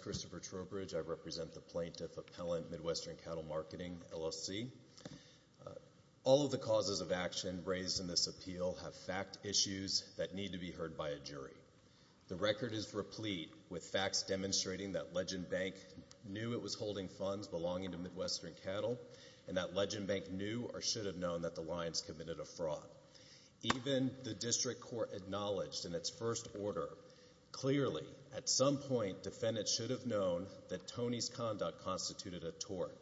Christopher Trowbridge, Plaintiff Appellant, Midwestern Cattle Marketing, LLC. All of the causes of action raised in this appeal have fact issues that need to be heard by a jury. The record is replete with facts demonstrating that Legend Bank knew it was holding funds belonging to Midwestern Cattle and that Legend Bank knew or should have known that the lines committed a fraud. Even the district court acknowledged in its first order, clearly, at some point, defendants should have known that Tony's conduct constituted a tort.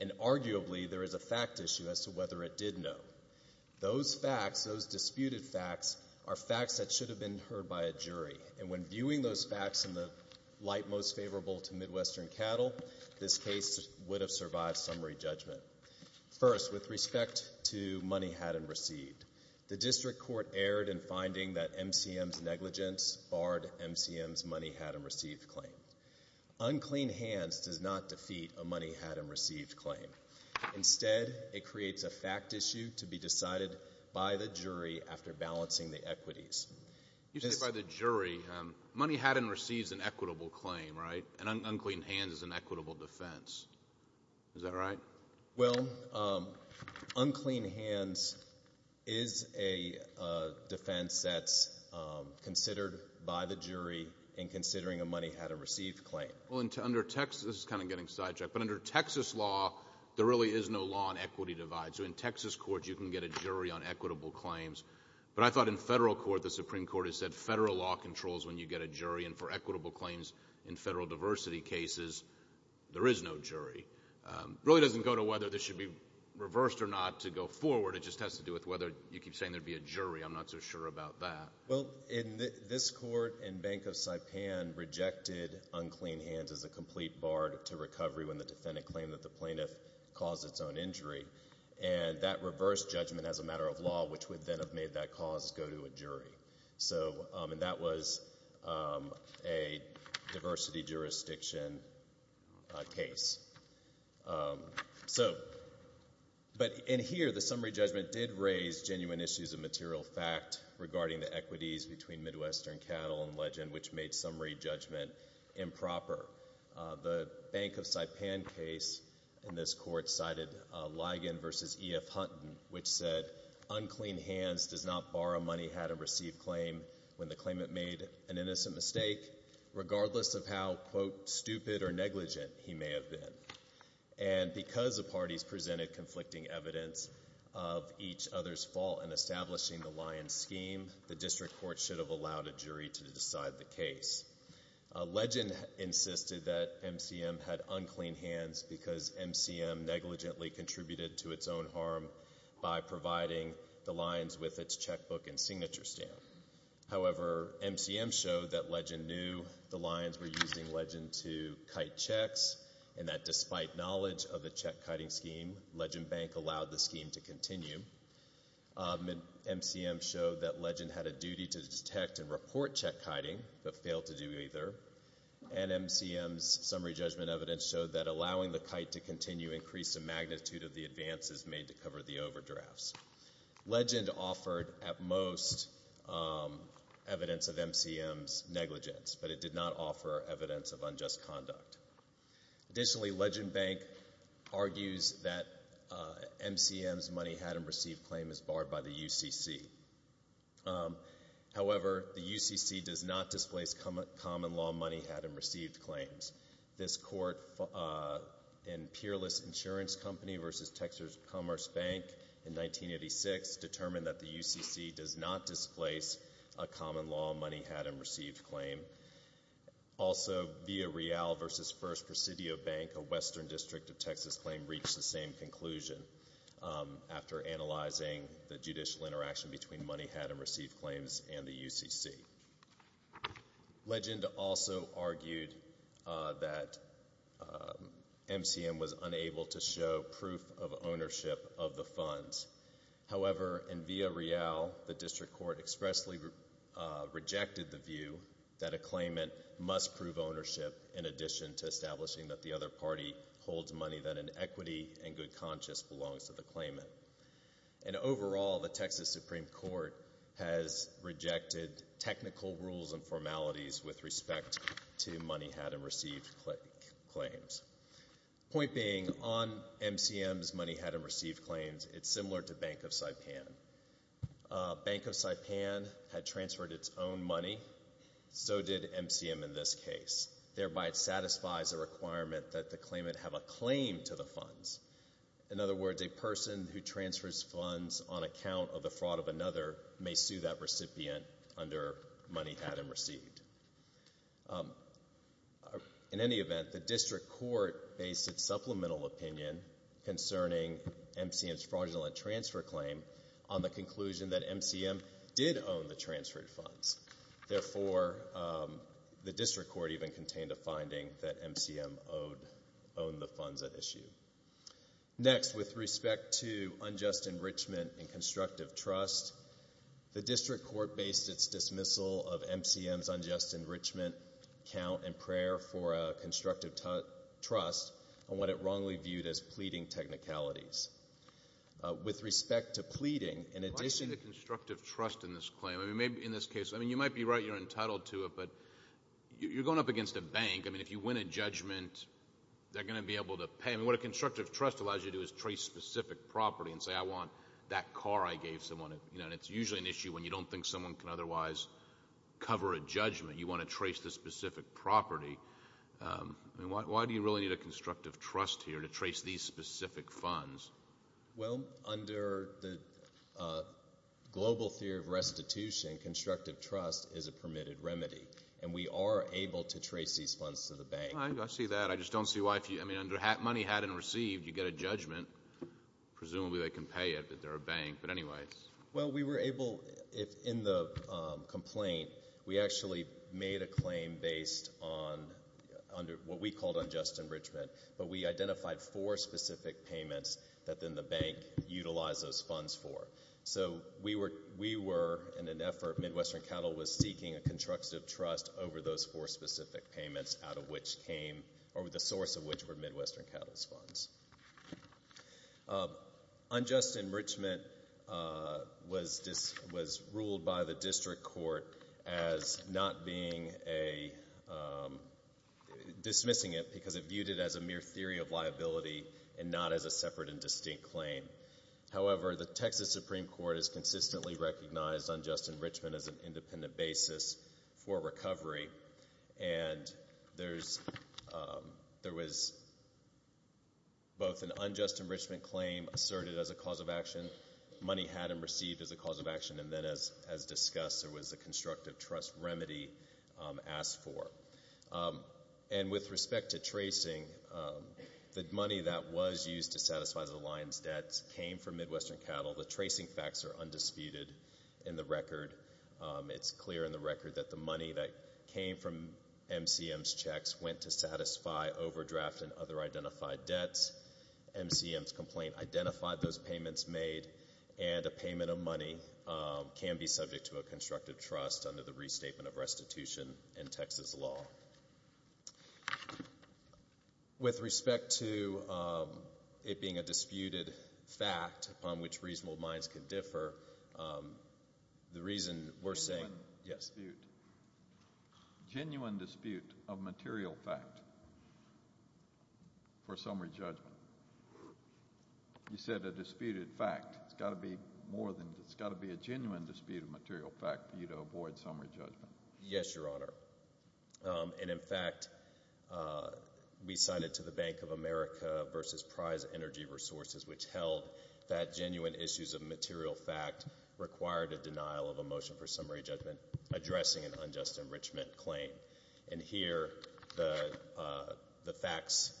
And arguably, there is a fact issue as to whether it did know. Those facts, those disputed facts, are facts that should have been heard by a jury. And when viewing those facts in the light most favorable to Midwestern Cattle, this case would have survived summary judgment. First, with respect to money had and received, the district court erred in finding that MCM's negligence barred MCM's money had and received claim. Unclean hands does not defeat a money had and received claim. Instead, it creates a fact issue to be decided by the jury after balancing the equities. You say by the jury. Money had and received is an equitable claim, right? And unclean hands is an equitable defense. Is that right? Well, unclean hands is a defense that's considered by the jury in considering a money had and received claim. Well, under Texas, this is kind of getting sidetracked, but under Texas law, there really is no law on equity divides. So in Texas courts, you can get a jury on equitable claims. But I thought in federal court, the Supreme Court has said federal law controls when you get a jury. And for equitable claims in federal diversity cases, there is no jury. It really doesn't go to whether this should be reversed or not to go forward. It just has to do with whether you keep saying there'd be a jury. I'm not so sure about that. Well, in this court, in Bank of Saipan, rejected unclean hands as a complete bar to recovery when the defendant claimed that the plaintiff caused its own injury. And that reversed judgment as a matter of law, which would then have made that cause go to a jury. So and that was a diversity jurisdiction case. So but in here, the summary judgment did raise genuine issues of material fact regarding the equities between Midwestern cattle and legend, which made summary judgment improper. The Bank of Saipan case in this court cited Ligon v. E.F. claim when the claimant made an innocent mistake, regardless of how, quote, stupid or negligent he may have been. And because the parties presented conflicting evidence of each other's fault in establishing the lion scheme, the district court should have allowed a jury to decide the case. Legend insisted that MCM had unclean hands because MCM negligently contributed to its own harm by providing the lions with its checkbook and signature stamp. However, MCM showed that legend knew the lions were using legend to kite checks and that despite knowledge of the check kiting scheme, legend bank allowed the scheme to continue. MCM showed that legend had a duty to detect and report check kiting but failed to do either. And MCM's summary judgment evidence showed that allowing the kite to continue increased the magnitude of the advances made to cover the overdrafts. Legend offered at most evidence of MCM's negligence, but it did not offer evidence of unjust conduct. Additionally, legend bank argues that MCM's money had and received claim is barred by the UCC. However, the UCC does not displace common law money had and received claims. This court in Peerless Insurance Company v. Texas Commerce Bank in 1986 determined that the UCC does not displace a common law money had and received claim. Also via Real v. First Presidio Bank, a western district of Texas claim reached the same conclusion after analyzing the judicial interaction between money had and received claims and the UCC. Legend also argued that MCM was unable to show proof of ownership of the funds. However, in via Real, the district court expressly rejected the view that a claimant must prove ownership in addition to establishing that the other party holds money that in equity and good conscience belongs to the claimant. And overall, the Texas Supreme Court has rejected technical rules and formalities with respect to money had and received claims. Point being, on MCM's money had and received claims, it's similar to Bank of Saipan. Bank of Saipan had transferred its own money. So did MCM in this case. Thereby it satisfies a requirement that the claimant have a claim to the funds. In other words, a person who transfers funds on account of the fraud of another may sue that recipient under money had and received. In any event, the district court based its supplemental opinion concerning MCM's fraudulent transfer claim on the conclusion that MCM did own the transferred funds. Therefore, the district court even contained a finding that MCM owned the funds at issue. Next, with respect to unjust enrichment and constructive trust, the district court based its dismissal of MCM's unjust enrichment count and prayer for constructive trust on what it wrongly viewed as pleading technicalities. With respect to pleading, in addition to constructive trust in this claim, I mean, maybe in this case, I mean, you might be right, you're entitled to it, but you're going up against a bank. I mean, if you win a judgment, they're going to be able to pay. I mean, what a constructive trust allows you to do is trace specific property and say, I want that car I gave someone, you know, and it's usually an issue when you don't think someone can otherwise cover a judgment. You want to trace the specific property. I mean, why do you really need a constructive trust here to trace these specific funds? Well, under the global theory of restitution, constructive trust is a permitted remedy, and we are able to trace these funds to the bank. I see that. I just don't see why, I mean, under money had and received, you get a judgment. Presumably, they can pay it, but they're a bank. But anyway. Well, we were able, in the complaint, we actually made a claim based on what we called unjust enrichment, but we identified four specific payments that then the bank utilized those funds for. So we were, in an effort, Midwestern Cattle was seeking a constructive trust over those four specific payments out of which came, or the source of which were Midwestern Cattle's funds. Unjust enrichment was ruled by the district court as not being a, dismissing it because it viewed it as a mere theory of liability and not as a separate and distinct claim. However, the Texas Supreme Court has consistently recognized unjust enrichment as an independent basis for recovery, and there was both an unjust enrichment claim asserted as a cause of action, money had and received as a cause of action, and then as discussed, there was a constructive trust remedy asked for. And with respect to tracing, the money that was used to satisfy the Lions debts came from Midwestern Cattle. The tracing facts are undisputed in the record. It's clear in the record that the money that came from MCM's checks went to satisfy overdraft and other identified debts. MCM's complaint identified those payments made, and a payment of money can be subject to a constructive trust under the Restatement of Restitution in Texas law. With respect to it being a disputed fact upon which reasonable minds can differ, the reason we're saying, yes. Genuine dispute. Genuine dispute of material fact for summary judgment. You said a disputed fact. It's got to be a genuine disputed material fact for you to avoid summary judgment. Yes, Your Honor. And in fact, we signed it to the Bank of America versus Prize Energy Resources, which held that genuine issues of material fact required a denial of a motion for summary judgment addressing an unjust enrichment claim. And here, the facts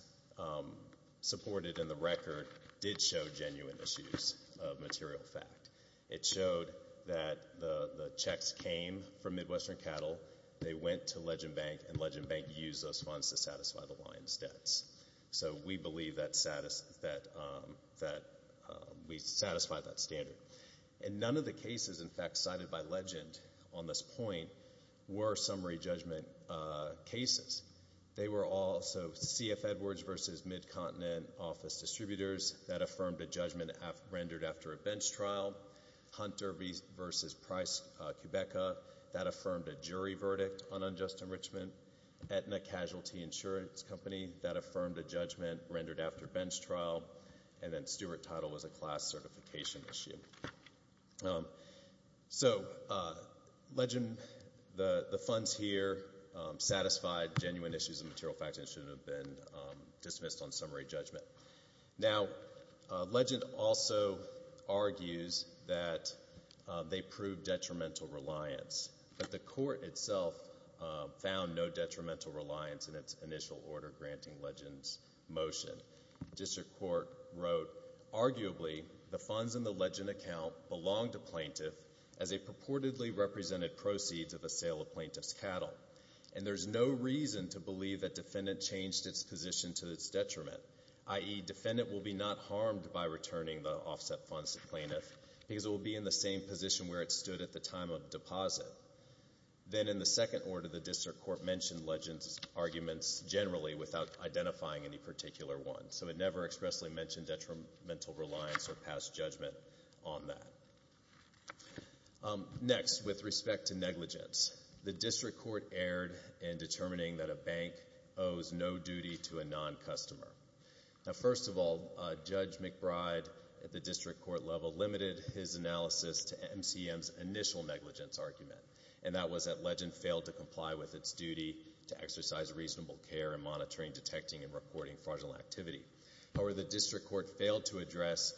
supported in the record did show genuine issues of material fact. It showed that the checks came from Midwestern Cattle. They went to Legend Bank, and Legend Bank used those funds to satisfy the Lions debts. So we believe that we satisfied that standard. And none of the cases, in fact, cited by Legend on this point were summary judgment cases. They were all—so CF Edwards versus Midcontinent Office Distributors, that affirmed a judgment rendered after a bench trial, Hunter versus Price, Quebeca, that affirmed a jury verdict on unjust enrichment, Aetna Casualty Insurance Company, that affirmed a judgment rendered after a bench trial, and then Stewart Title was a class certification issue. So Legend—the funds here satisfied genuine issues of material fact and should have been dismissed on summary judgment. Now Legend also argues that they proved detrimental reliance, but the court itself found no detrimental reliance in its initial order granting Legend's motion. District Court wrote, arguably, the funds in the Legend account belonged to plaintiff as a purportedly represented proceed to the sale of plaintiff's cattle. And there's no reason to believe that defendant changed its position to its detriment, i.e., defendant will be not harmed by returning the offset funds to plaintiff because it will be in the same position where it stood at the time of deposit. Then in the second order, the District Court mentioned Legend's arguments generally without identifying any particular one. So it never expressly mentioned detrimental reliance or past judgment on that. Next, with respect to negligence, the District Court erred in determining that a bank owes no duty to a non-customer. Now, first of all, Judge McBride, at the District Court level, limited his analysis to MCM's initial negligence argument, and that was that Legend failed to comply with its duty to exercise reasonable care in monitoring, detecting, and reporting fraudulent activity. However, the District Court failed to address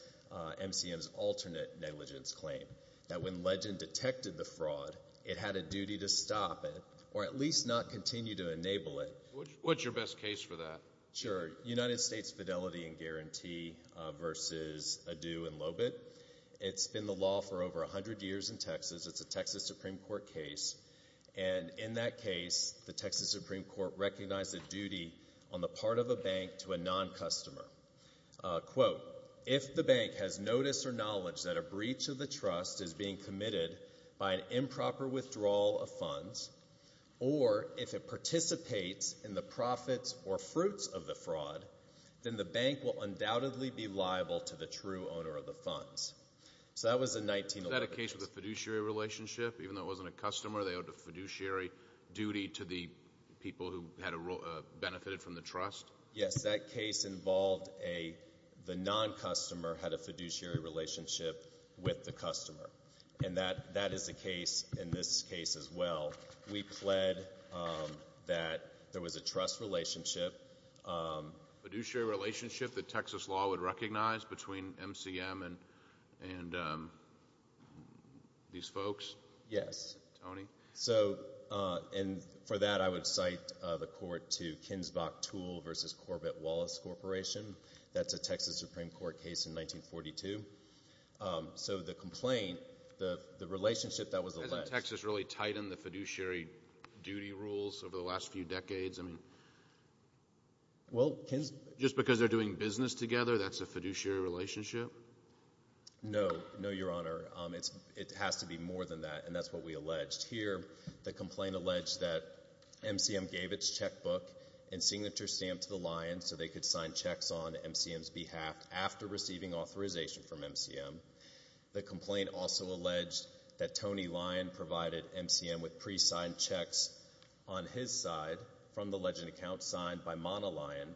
MCM's alternate negligence claim, that when Legend detected the fraud, it had a duty to stop it or at least not continue to enable it. What's your best case for that? Sure. United States Fidelity and Guarantee versus Adu and Lobitt. It's been the law for over 100 years in Texas. It's a Texas Supreme Court case. And in that case, the Texas Supreme Court recognized a duty on the part of a bank to a non-customer. Quote, if the bank has notice or knowledge that a breach of the trust is being committed by an improper withdrawal of funds, or if it participates in the profits or fruits of the fraud, then the bank will undoubtedly be liable to the true owner of the funds. So that was in 1911. Is that a case with a fiduciary relationship? Even though it wasn't a customer, they owed a fiduciary duty to the people who had benefited from the trust? Yes. That case involved the non-customer had a fiduciary relationship with the customer. And that is the case in this case as well. We pled that there was a trust relationship. Fiduciary relationship that Texas law would recognize between MCM and these folks? Yes. Tony? So, and for that, I would cite the court to Kinsbach-Tool versus Corbett-Wallace Corporation. That's a Texas Supreme Court case in 1942. So the complaint, the relationship, that was alleged. Did Texas really tighten the fiduciary duty rules over the last few decades? I mean, just because they're doing business together, that's a fiduciary relationship? No. No, Your Honor. It has to be more than that, and that's what we alleged. Here, the complaint alleged that MCM gave its checkbook and signature stamp to the Lions so they could sign checks on MCM's behalf after receiving authorization from MCM. The complaint also alleged that Tony Lion provided MCM with pre-signed checks on his side from the legend account signed by Mona Lion.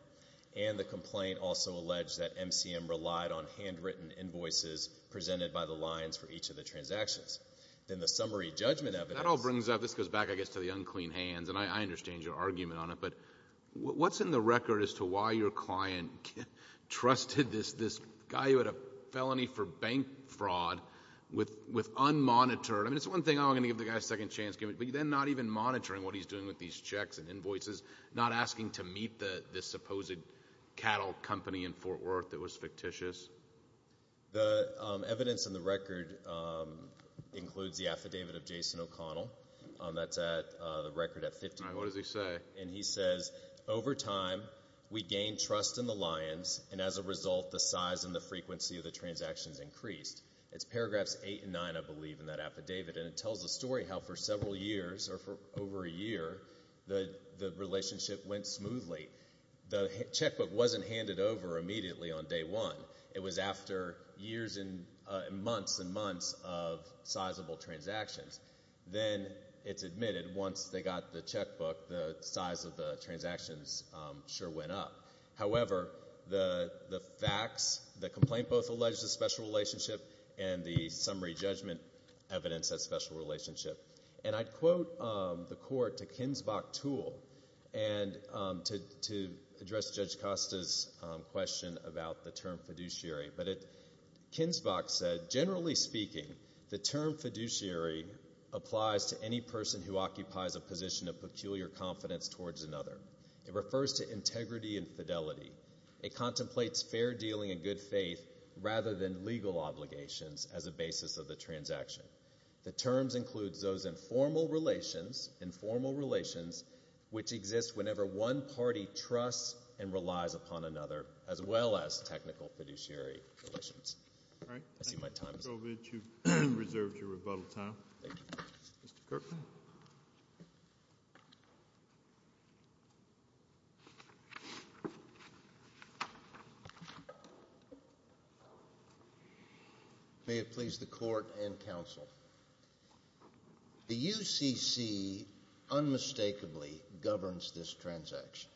And the complaint also alleged that MCM relied on handwritten invoices presented by the Lions for each of the transactions. In the summary judgment evidence— That all brings up—this goes back, I guess, to the unclean hands, and I understand your argument on it, but what's in the record as to why your client trusted this guy who committed a felony for bank fraud with unmonitored—I mean, it's one thing, oh, I'm going to give the guy a second chance, but then not even monitoring what he's doing with these checks and invoices, not asking to meet this supposed cattle company in Fort Worth that was fictitious? The evidence in the record includes the affidavit of Jason O'Connell that's at—the record at 59. What does he say? And he says, over time, we gained trust in the Lions, and as a result, the size and the frequency of the transactions increased. It's paragraphs 8 and 9, I believe, in that affidavit, and it tells a story how for several years or for over a year, the relationship went smoothly. The checkbook wasn't handed over immediately on day one. It was after years and months and months of sizable transactions. Then it's admitted once they got the checkbook, the size of the transactions sure went up. However, the facts, the complaint both alleged a special relationship and the summary judgment evidence that special relationship. And I'd quote the court to Kinsvach Toole, and to address Judge Costa's question about the term fiduciary, but Kinsvach said, generally speaking, the term fiduciary applies to any person who occupies a position of peculiar confidence towards another. It refers to integrity and fidelity. It contemplates fair dealing and good faith rather than legal obligations as a basis of the transaction. The terms include those informal relations, informal relations, which exist whenever one party trusts and relies upon another, as well as technical fiduciary relations. I see my time is up. Thank you, Mr. Kovic. You've reserved your rebuttal time. Thank you. Mr. Kirkman. May it please the court and counsel. The UCC unmistakably governs this transaction.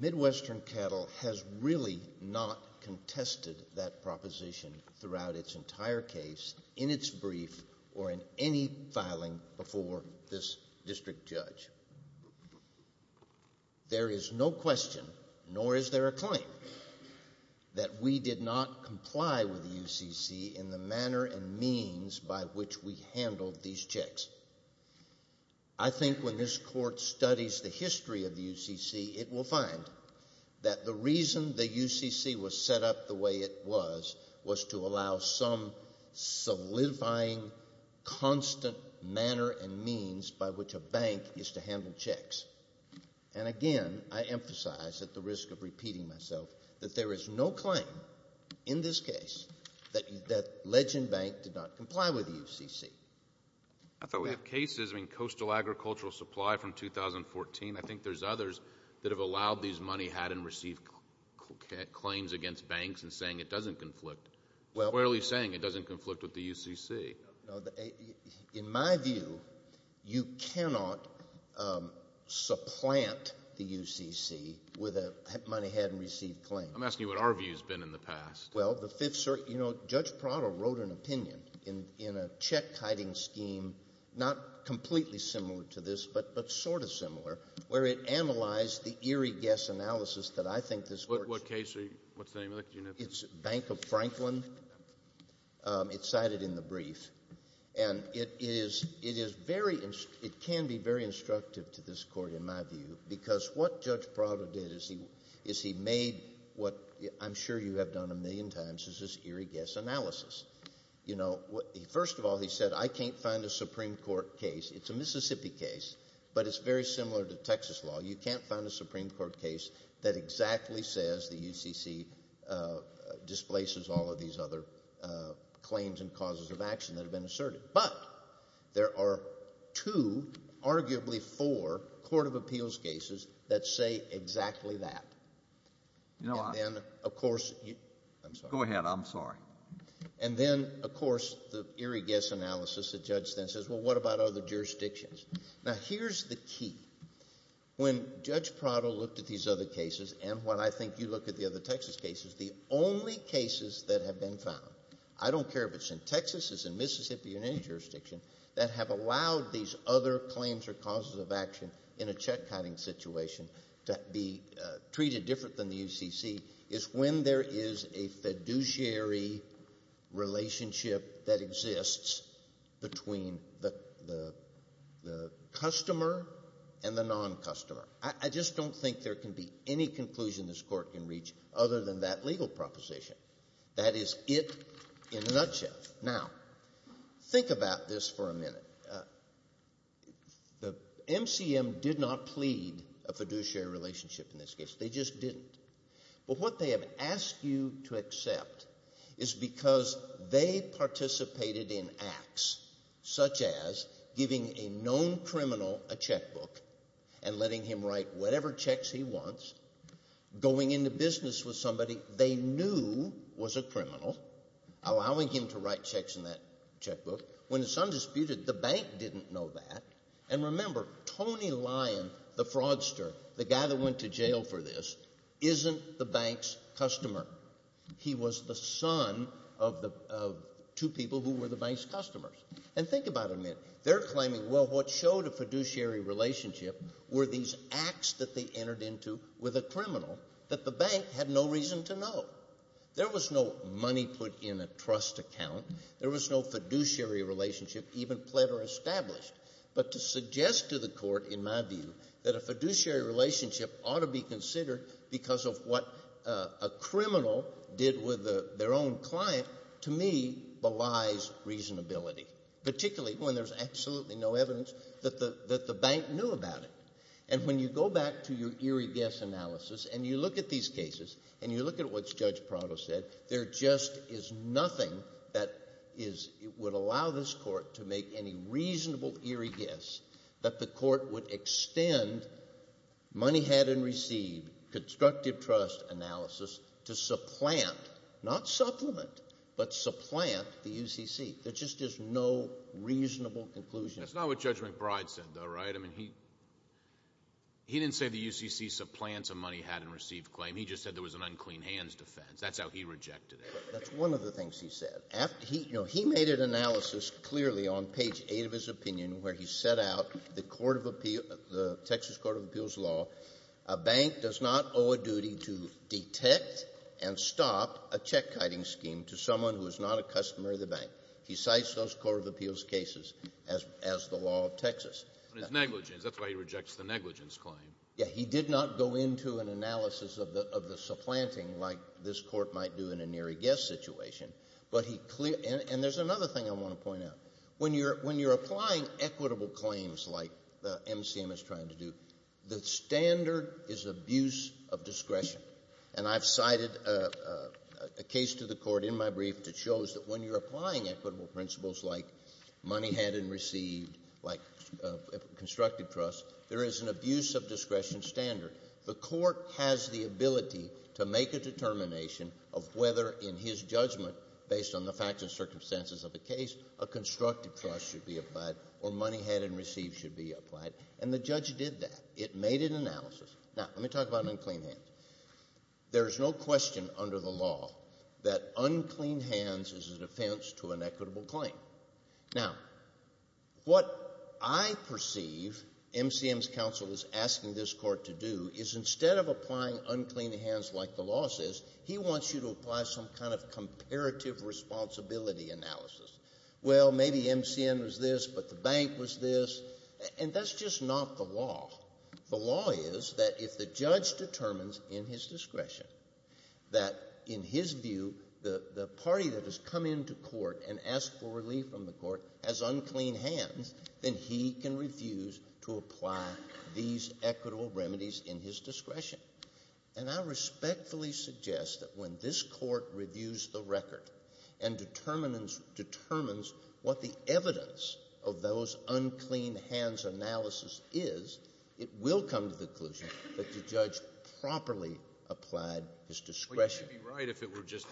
Midwestern Cattle has really not contested that proposition throughout its entire case, in its brief, or in any filing before this district judge. There is no question, nor is there a claim, that we did not comply with the UCC in the manner and means by which we handled these checks. I think when this court studies the history of the UCC, it will find that the reason the UCC was set up the way it was, was to allow some solidifying, constant manner and means by which a bank is to handle checks. And again, I emphasize, at the risk of repeating myself, that there is no claim in this case that Ledge and Bank did not comply with the UCC. I thought we had cases, I mean, Coastal Agricultural Supply from 2014. I think there's others that have allowed these money, hadn't received claims against banks, and saying it doesn't conflict. Where are you saying it doesn't conflict with the UCC? In my view, you cannot supplant the UCC with a money hadn't received claim. I'm asking you what our view's been in the past. Well, the Fifth Circuit, you know, Judge Prado wrote an opinion in a check-hiding scheme, not completely similar to this, but sort of similar, where it analyzed the eerie guess analysis that I think this court's... What case? What's the name of it? It's Bank of Franklin. It's cited in the brief. And it is very, it can be very instructive to this court, in my view, because what Judge you have done a million times is this eerie guess analysis. You know, first of all, he said, I can't find a Supreme Court case. It's a Mississippi case, but it's very similar to Texas law. You can't find a Supreme Court case that exactly says the UCC displaces all of these other claims and causes of action that have been asserted. But there are two, arguably four, court of appeals cases that say exactly that. And then, of course... I'm sorry. Go ahead. I'm sorry. And then, of course, the eerie guess analysis, the judge then says, well, what about other jurisdictions? Now, here's the key. When Judge Prado looked at these other cases, and when I think you look at the other Texas cases, the only cases that have been found, I don't care if it's in Texas, it's in Mississippi, in any jurisdiction, that have allowed these other claims or causes of action in a check-hiding situation to be treated different than the UCC is when there is a fiduciary relationship that exists between the customer and the non-customer. I just don't think there can be any conclusion this court can reach other than that legal proposition. That is it in a nutshell. Now, think about this for a minute. The MCM did not plead a fiduciary relationship in this case. They just didn't. But what they have asked you to accept is because they participated in acts such as giving a known criminal a checkbook and letting him write whatever checks he wants, going into business with somebody they knew was a criminal, allowing him to write checks in that checkbook, when it's undisputed, the bank didn't know that. And remember, Tony Lyon, the fraudster, the guy that went to jail for this, isn't the bank's customer. He was the son of two people who were the bank's customers. And think about it a minute. They're claiming, well, what showed a fiduciary relationship were these acts that they entered into with a criminal that the bank had no reason to know. There was no money put in a trust account. There was no fiduciary relationship even pled or established. But to suggest to the court, in my view, that a fiduciary relationship ought to be considered because of what a criminal did with their own client, to me, belies reasonability, particularly when there's absolutely no evidence that the bank knew about it. And when you go back to your eerie guess analysis and you look at these cases and you look at what Judge Prado said, there just is nothing that would allow this court to make any reasonable eerie guess that the court would extend money had and received, constructive trust analysis, to supplant, not supplement, but supplant the UCC. There's just no reasonable conclusion. That's not what Judge McBride said, though, right? He didn't say the UCC supplants a money had and received claim. He just said there was an unclean hands defense. That's how he rejected it. That's one of the things he said. You know, he made an analysis clearly on page 8 of his opinion where he set out the court of appeal, the Texas court of appeals law. A bank does not owe a duty to detect and stop a check-kiting scheme to someone who is not a customer of the bank. He cites those court of appeals cases as the law of Texas. But it's negligence. That's why he rejects the negligence claim. He did not go into an analysis of the supplanting like this court might do in an eerie guess situation. But he clear – and there's another thing I want to point out. When you're applying equitable claims like MCM is trying to do, the standard is abuse of discretion. And I've cited a case to the court in my brief that shows that when you're applying equitable principles like money had and received, like constructive trust, there is an abuse of discretion standard. The court has the ability to make a determination of whether in his judgment, based on the facts and circumstances of the case, a constructive trust should be applied or money had and received should be applied. And the judge did that. It made an analysis. Now, let me talk about unclean hands. There's no question under the law that unclean hands is an offense to an equitable claim. Now, what I perceive MCM's counsel is asking this court to do is instead of applying unclean hands like the law says, he wants you to apply some kind of comparative responsibility analysis. Well, maybe MCM was this, but the bank was this. And that's just not the law. The law is that if the judge determines in his discretion that, in his view, the party that has come into court and asked for relief from the court has unclean hands, then he can refuse to apply these equitable remedies in his discretion. And I respectfully suggest that when this court reviews the record and determines what the evidence of those unclean hands analysis is, it will come to the conclusion that the judge properly applied his discretion. But you should be right if it were just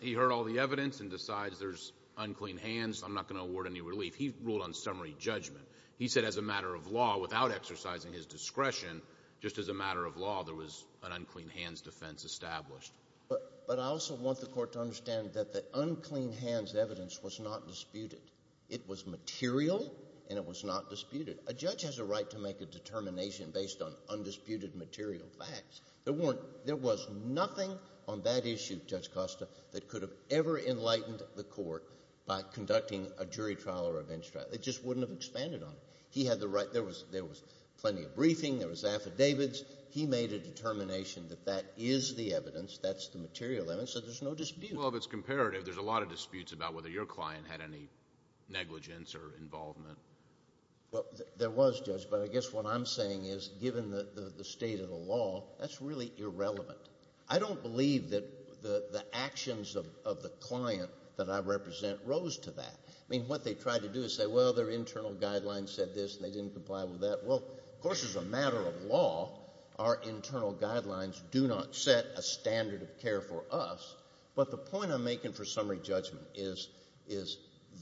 he heard all the evidence and decides there's unclean hands, I'm not going to award any relief. He ruled on summary judgment. He said as a matter of law, without exercising his discretion, just as a matter of law, there was an unclean hands defense established. But I also want the court to understand that the unclean hands evidence was not disputed. It was material, and it was not disputed. A judge has a right to make a determination based on undisputed material facts. There was nothing on that issue, Judge Costa, that could have ever enlightened the court by conducting a jury trial or a bench trial. It just wouldn't have expanded on it. He had the right, there was plenty of briefing, there was affidavits. He made a determination that that is the evidence, that's the material evidence, so there's no dispute. Well, if it's comparative, there's a lot of disputes about whether your client had any negligence or involvement. There was, Judge. But I guess what I'm saying is, given the state of the law, that's really irrelevant. I don't believe that the actions of the client that I represent rose to that. I mean, what they tried to do is say, well, their internal guidelines said this, and they didn't comply with that. Well, of course, as a matter of law, our internal guidelines do not set a standard of care for us. But the point I'm making for summary judgment is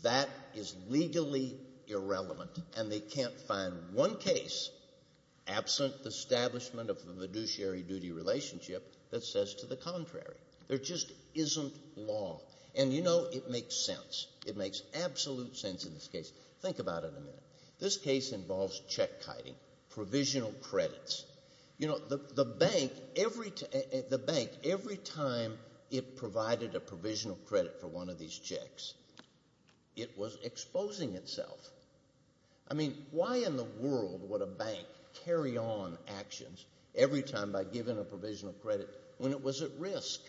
that is legally irrelevant, and they can't find one case, absent the establishment of a fiduciary duty relationship, that says to the contrary. There just isn't law. And you know, it makes sense. It makes absolute sense in this case. Think about it a minute. This case involves check-kiting, provisional credits. You know, the bank, every time it provided a provisional credit for one of these checks, it was exposing itself. I mean, why in the world would a bank carry on actions every time by giving a provisional credit when it was at risk?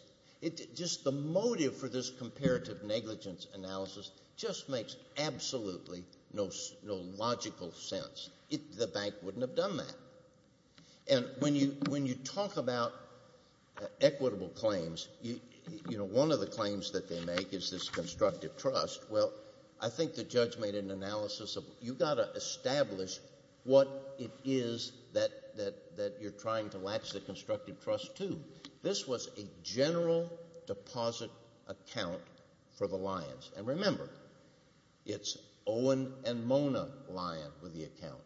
Just the motive for this comparative negligence analysis just makes absolutely no logical sense. The bank wouldn't have done that. And when you talk about equitable claims, you know, one of the claims that they make is this constructive trust. Well, I think the judge made an analysis of, you've got to establish what it is that you're trying to latch the constructive trust to. This was a general deposit account for the Lyons. And remember, it's Owen and Mona Lyon with the account,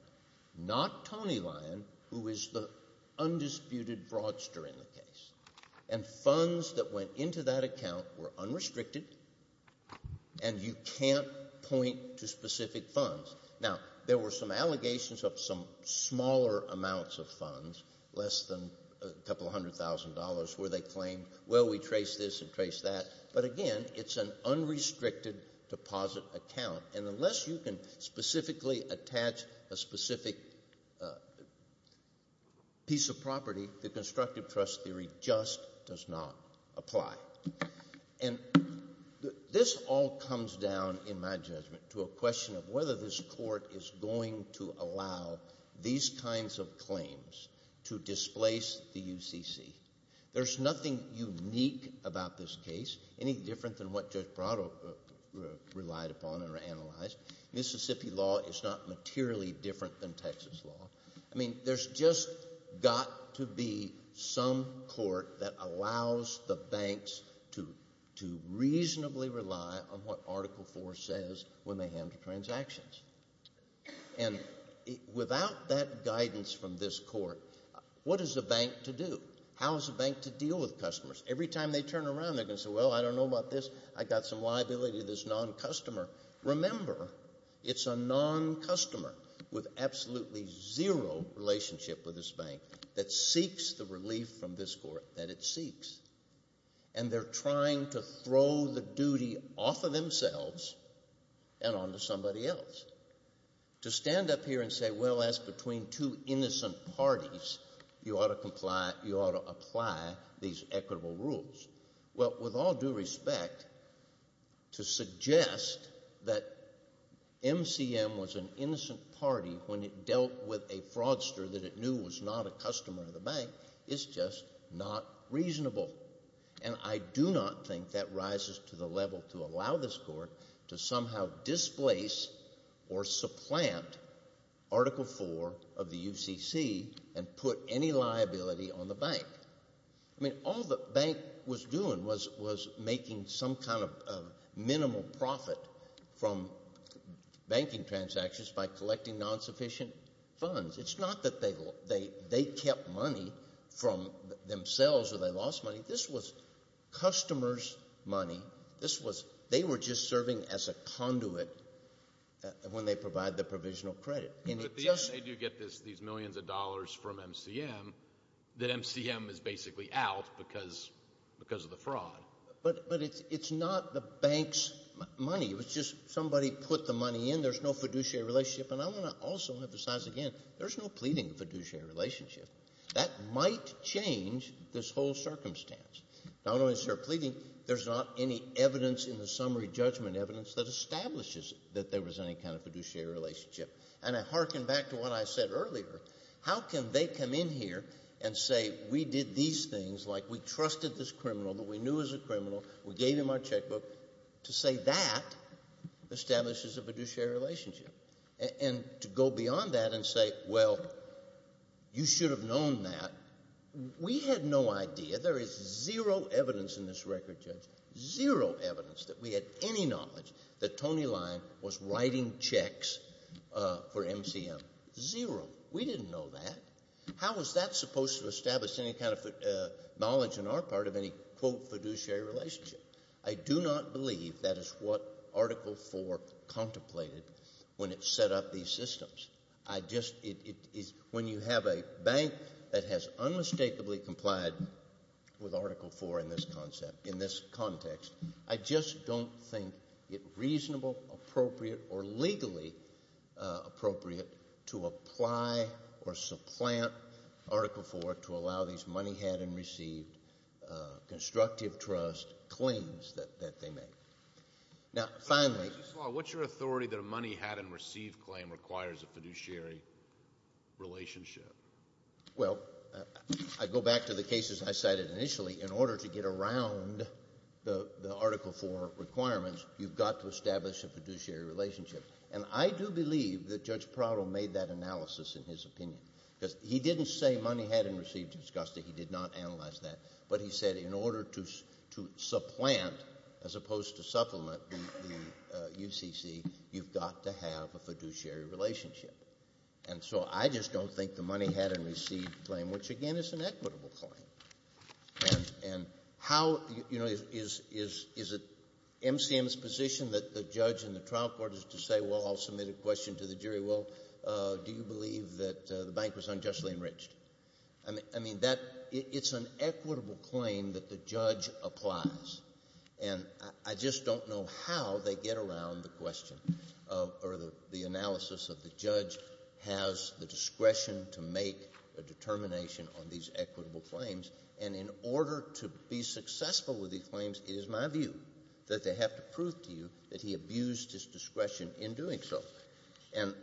not Tony Lyon, who is the undisputed broadster in the case. And funds that went into that account were unrestricted, and you can't point to specific funds. Now, there were some allegations of some smaller amounts of funds, less than a couple hundred thousand dollars, where they claimed, well, we traced this and traced that. But again, it's an unrestricted deposit account. And unless you can specifically attach a specific piece of property, the constructive trust theory just does not apply. And this all comes down, in my judgment, to a question of whether this court is going to allow these kinds of claims to displace the UCC. There's nothing unique about this case, any different than what Judge Brado relied upon and analyzed. Mississippi law is not materially different than Texas law. I mean, there's just got to be some court that allows the banks to reasonably rely on what Article IV says when they handle transactions. And without that guidance from this court, what is a bank to do? How is a bank to deal with customers? Every time they turn around, they're going to say, well, I don't know about this. I've got some liability to this non-customer. Remember, it's a non-customer with absolutely zero relationship with this bank that seeks the relief from this court that it seeks. And they're trying to throw the duty off of themselves and onto somebody else. To stand up here and say, well, as between two innocent parties, you ought to apply these equitable rules. Well, with all due respect, to suggest that MCM was an innocent party when it dealt with a fraudster that it knew was not a customer of the bank is just not reasonable. And I do not think that rises to the level to allow this court to somehow displace or supplant Article IV of the UCC and put any liability on the bank. I mean, all the bank was doing was making some kind of minimal profit from banking transactions by collecting non-sufficient funds. It's not that they kept money from themselves or they lost money. This was customers' money. They were just serving as a conduit when they provide the provisional credit. But they do get these millions of dollars from MCM that MCM is basically out because of the fraud. But it's not the bank's money. It was just somebody put the money in. There's no fiduciary relationship. And I want to also emphasize again, there's no pleading fiduciary relationship. That might change this whole circumstance. Not only is there pleading, there's not any evidence in the summary judgment evidence that establishes that there was any kind of fiduciary relationship. And I hearken back to what I said earlier. How can they come in here and say, we did these things, like we trusted this criminal that we knew was a criminal, we gave him our checkbook, to say that establishes a fiduciary relationship? And to go beyond that and say, well, you should have known that. We had no idea. There is zero evidence in this record, Judge, zero evidence that we had any knowledge that for MCM. Zero. We didn't know that. How is that supposed to establish any kind of knowledge in our part of any, quote, fiduciary relationship? I do not believe that is what Article 4 contemplated when it set up these systems. I just, it is, when you have a bank that has unmistakably complied with Article 4 in this context, I just don't think it reasonable, appropriate, or legally appropriate to apply or supplant Article 4 to allow these money-had-and-received, constructive trust claims that they make. Now, finally. Justice Law, what's your authority that a money-had-and-received claim requires a fiduciary relationship? Well, I go back to the cases I cited initially. In order to get around the Article 4 requirements, you've got to establish a fiduciary relationship. And I do believe that Judge Prado made that analysis in his opinion. Because he didn't say money-had-and-received is gusty, he did not analyze that. But he said in order to supplant, as opposed to supplement the UCC, you've got to have a fiduciary relationship. And so I just don't think the money-had-and-received claim, which again is an equitable claim. And how, you know, is it MCM's position that the judge and the trial court is to say, well, I'll submit a question to the jury, well, do you believe that the bank was unjustly enriched? I mean, that, it's an equitable claim that the judge applies. And I just don't know how they get around the question of or the analysis of the judge has the discretion to make a determination on these equitable claims. And in order to be successful with these claims, it is my view that they have to prove to you that he abused his discretion in doing so. And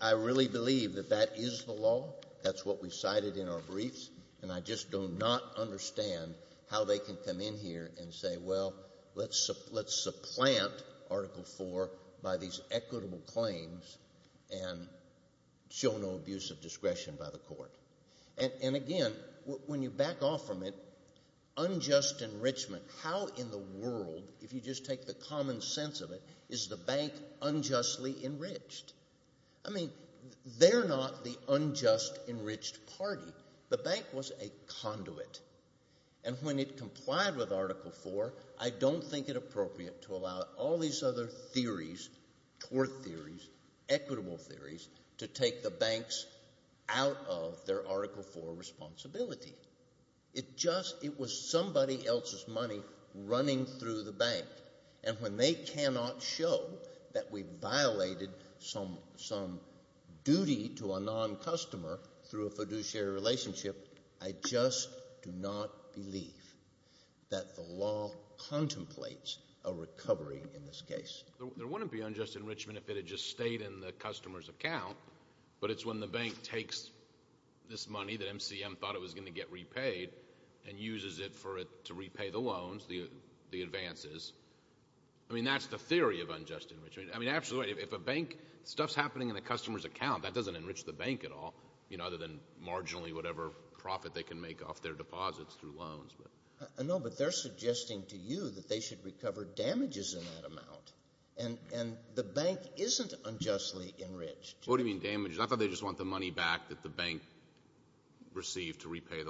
I really believe that that is the law. That's what we cited in our briefs. And I just do not understand how they can come in here and say, well, let's supplant Article 4 by these equitable claims and show no abuse of discretion by the court. And again, when you back off from it, unjust enrichment, how in the world, if you just take the common sense of it, is the bank unjustly enriched? I mean, they're not the unjust enriched party. The bank was a conduit. And when it complied with Article 4, I don't think it appropriate to allow all these other theories, tort theories, equitable theories, to take the banks out of their Article 4 responsibility. It just, it was somebody else's money running through the bank. And when they cannot show that we violated some, some duty to a non-customer through a fiduciary relationship, I just do not believe that the law contemplates a recovery in this case. There wouldn't be unjust enrichment if it had just stayed in the customer's account, but it's when the bank takes this money that MCM thought it was going to get repaid and uses it for it to repay the loans, the advances. I mean, that's the theory of unjust enrichment. I mean, absolutely, if a bank, stuff's happening in the customer's account, that doesn't enrich the bank at all, you know, other than marginally whatever profit they can make off their deposits through loans. I know, but they're suggesting to you that they should recover damages in that amount. And the bank isn't unjustly enriched. What do you mean, damages? I thought they just want the money back that the bank received to repay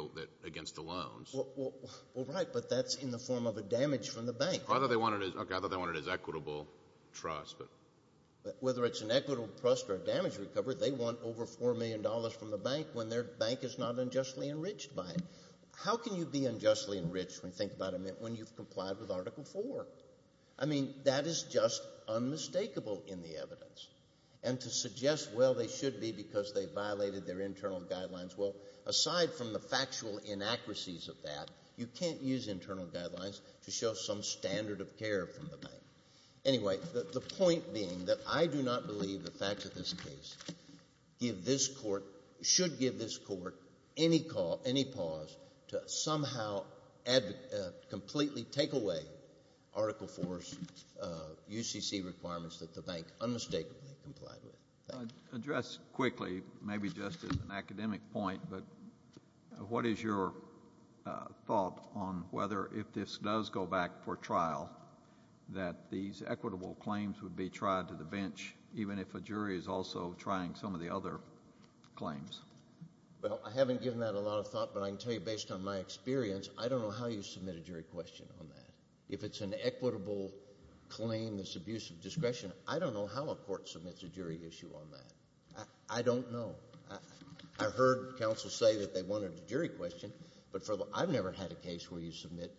against the loans. Well, right, but that's in the form of a damage from the bank. I thought they wanted it, okay, I thought they wanted it as equitable trust, but. Whether it's an equitable trust or a damage recovery, they want over $4 million from the bank when their bank is not unjustly enriched by it. How can you be unjustly enriched, when you think about it, when you've complied with Article 4? I mean, that is just unmistakable in the evidence. And to suggest, well, they should be because they violated their internal guidelines, well, aside from the factual inaccuracies of that, you can't use internal guidelines to show some standard of care from the bank. Anyway, the point being that I do not believe the facts of this case should give this court any pause to somehow completely take away Article 4's UCC requirements that the bank unmistakably complied with. I'd address quickly, maybe just as an academic point, but what is your thought on whether if this does go back for trial, that these equitable claims would be tried to the bench, even if a jury is also trying some of the other claims? Well, I haven't given that a lot of thought, but I can tell you, based on my experience, I don't know how you submit a jury question on that. If it's an equitable claim, this abuse of discretion, I don't know how a court submits a jury issue on that. I don't know. I heard counsel say that they wanted a jury question, but I've never had a case where you submit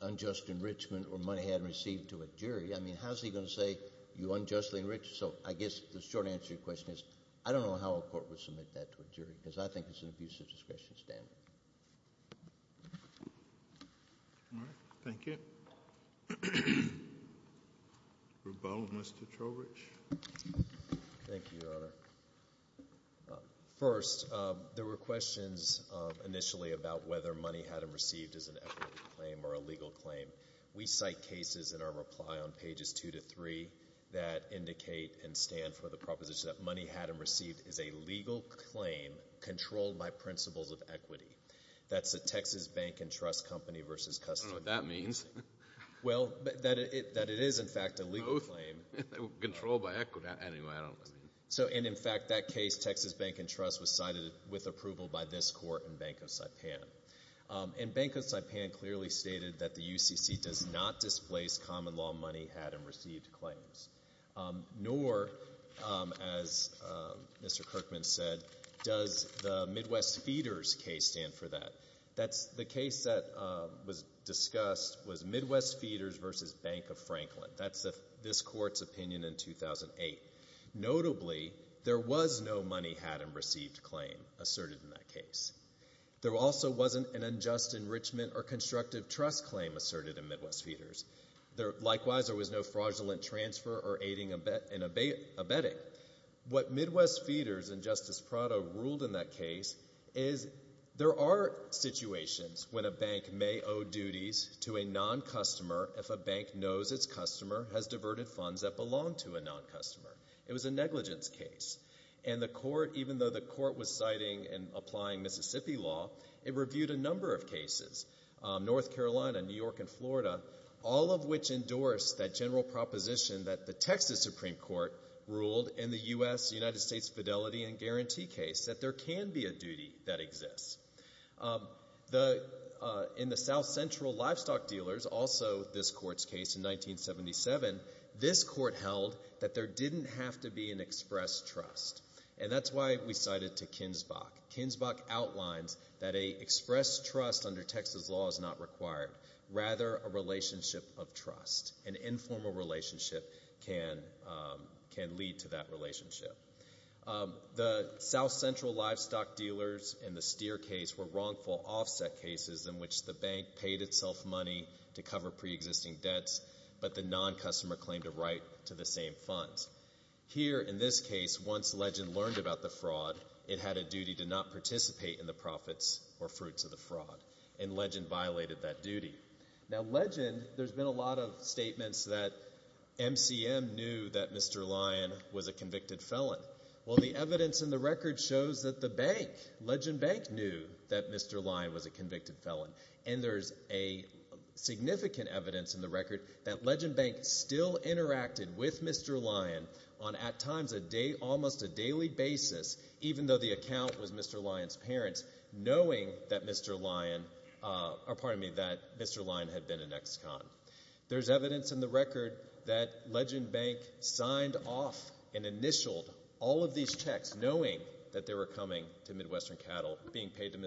unjust enrichment or money hadn't received to a jury. I mean, how's he going to say you unjustly enriched? So I guess the short answer to your question is, I don't know how a court would submit that to a jury, because I think it's an abuse of discretion standard. All right. Thank you. Thank you, Your Honor. First, there were questions initially about whether money hadn't received is an equitable claim or a legal claim. We cite cases in our reply on pages 2 to 3 that indicate and stand for the proposition that money hadn't received is a legal claim controlled by principles of equity. That's the Texas Bank and Trust Company v. Customs. I don't know what that means. Well, that it is, in fact, a legal claim. Both. Controlled by equity. Anyway, I don't believe it. So, and in fact, that case, Texas Bank and Trust, was cited with approval by this court and Bank of Saipan. And Bank of Saipan clearly stated that the UCC does not displace common law money had and received claims, nor, as Mr. Kirkman said, does the Midwest Feeders case stand for that. That's the case that was discussed was Midwest Feeders v. Bank of Franklin. That's this court's opinion in 2008. Notably, there was no money had and received claim asserted in that case. There also wasn't an unjust enrichment or constructive trust claim asserted in Midwest Feeders. Likewise, there was no fraudulent transfer or aiding and abetting. What Midwest Feeders and Justice Prado ruled in that case is there are situations when a bank may owe duties to a non-customer if a bank knows its customer has diverted funds that belong to a non-customer. It was a negligence case. And the court, even though the court was citing and applying Mississippi law, it reviewed a number of cases, North Carolina, New York, and Florida, all of which endorsed that general proposition that the Texas Supreme Court ruled in the U.S. United States Fidelity and Guarantee case that there can be a duty that exists. In the South Central Livestock Dealers, also this court's case in 1977, this court held that there didn't have to be an express trust. And that's why we cited to Kinsbach. Kinsbach outlines that an express trust under Texas law is not required, rather a relationship of trust, an informal relationship can lead to that relationship. The South Central Livestock Dealers and the Steer case were wrongful offset cases in which the bank paid itself money to cover pre-existing debts, but the non-customer claimed a right to the same funds. Here in this case, once Legend learned about the fraud, it had a duty to not participate in the profits or fruits of the fraud, and Legend violated that duty. Now Legend, there's been a lot of statements that MCM knew that Mr. Lyon was a convicted felon. Well, the evidence in the record shows that the bank, Legend Bank, knew that Mr. Lyon was a convicted felon. And there's a significant evidence in the record that Legend Bank still interacted with Mr. Lyon on, at times, almost a daily basis, even though the account was Mr. Lyon's parents, Mr. Lyon. There's evidence in the record that Legend Bank signed off and initialed all of these checks knowing that they were coming to Midwestern Cattle, being paid to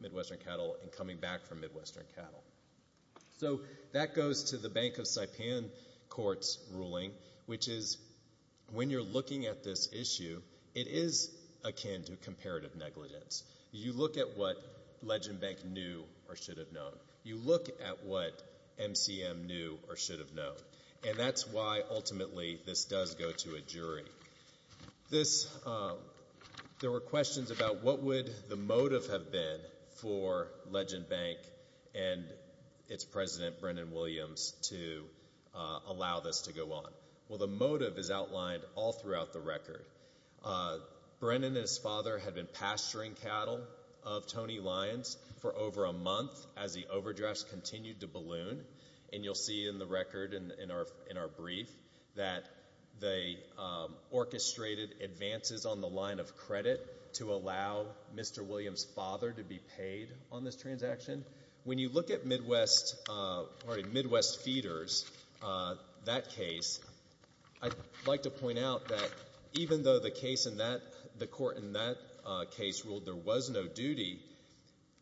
Midwestern Cattle, and coming back from Midwestern Cattle. So that goes to the Bank of Saipan Court's ruling, which is, when you're looking at this issue, it is akin to comparative negligence. You look at what Legend Bank knew or should have known. You look at what MCM knew or should have known. And that's why, ultimately, this does go to a jury. This, there were questions about what would the motive have been for Legend Bank and its president, Brendan Williams, to allow this to go on. Well, the motive is outlined all throughout the record. Brendan and his father had been pasturing cattle of Tony Lyon's for over a month as the overdrafts continued to balloon. And you'll see in the record, in our brief, that they orchestrated advances on the line of credit to allow Mr. Williams' father to be paid on this transaction. When you look at Midwest Feeders, that case, I'd like to point out that even though the case in that, the court in that case ruled there was no duty,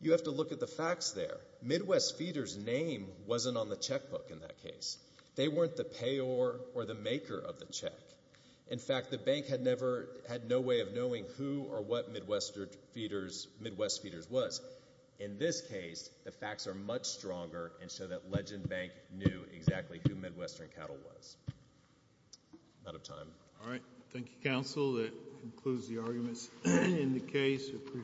you have to look at the facts there. Midwest Feeders' name wasn't on the checkbook in that case. They weren't the payer or the maker of the check. In fact, the bank had never, had no way of knowing who or what Midwest Feeders was. In this case, the facts are much stronger and show that Legend Bank knew exactly who Midwestern Cattle was. Out of time. All right. Thank you, counsel. That concludes the arguments in the case.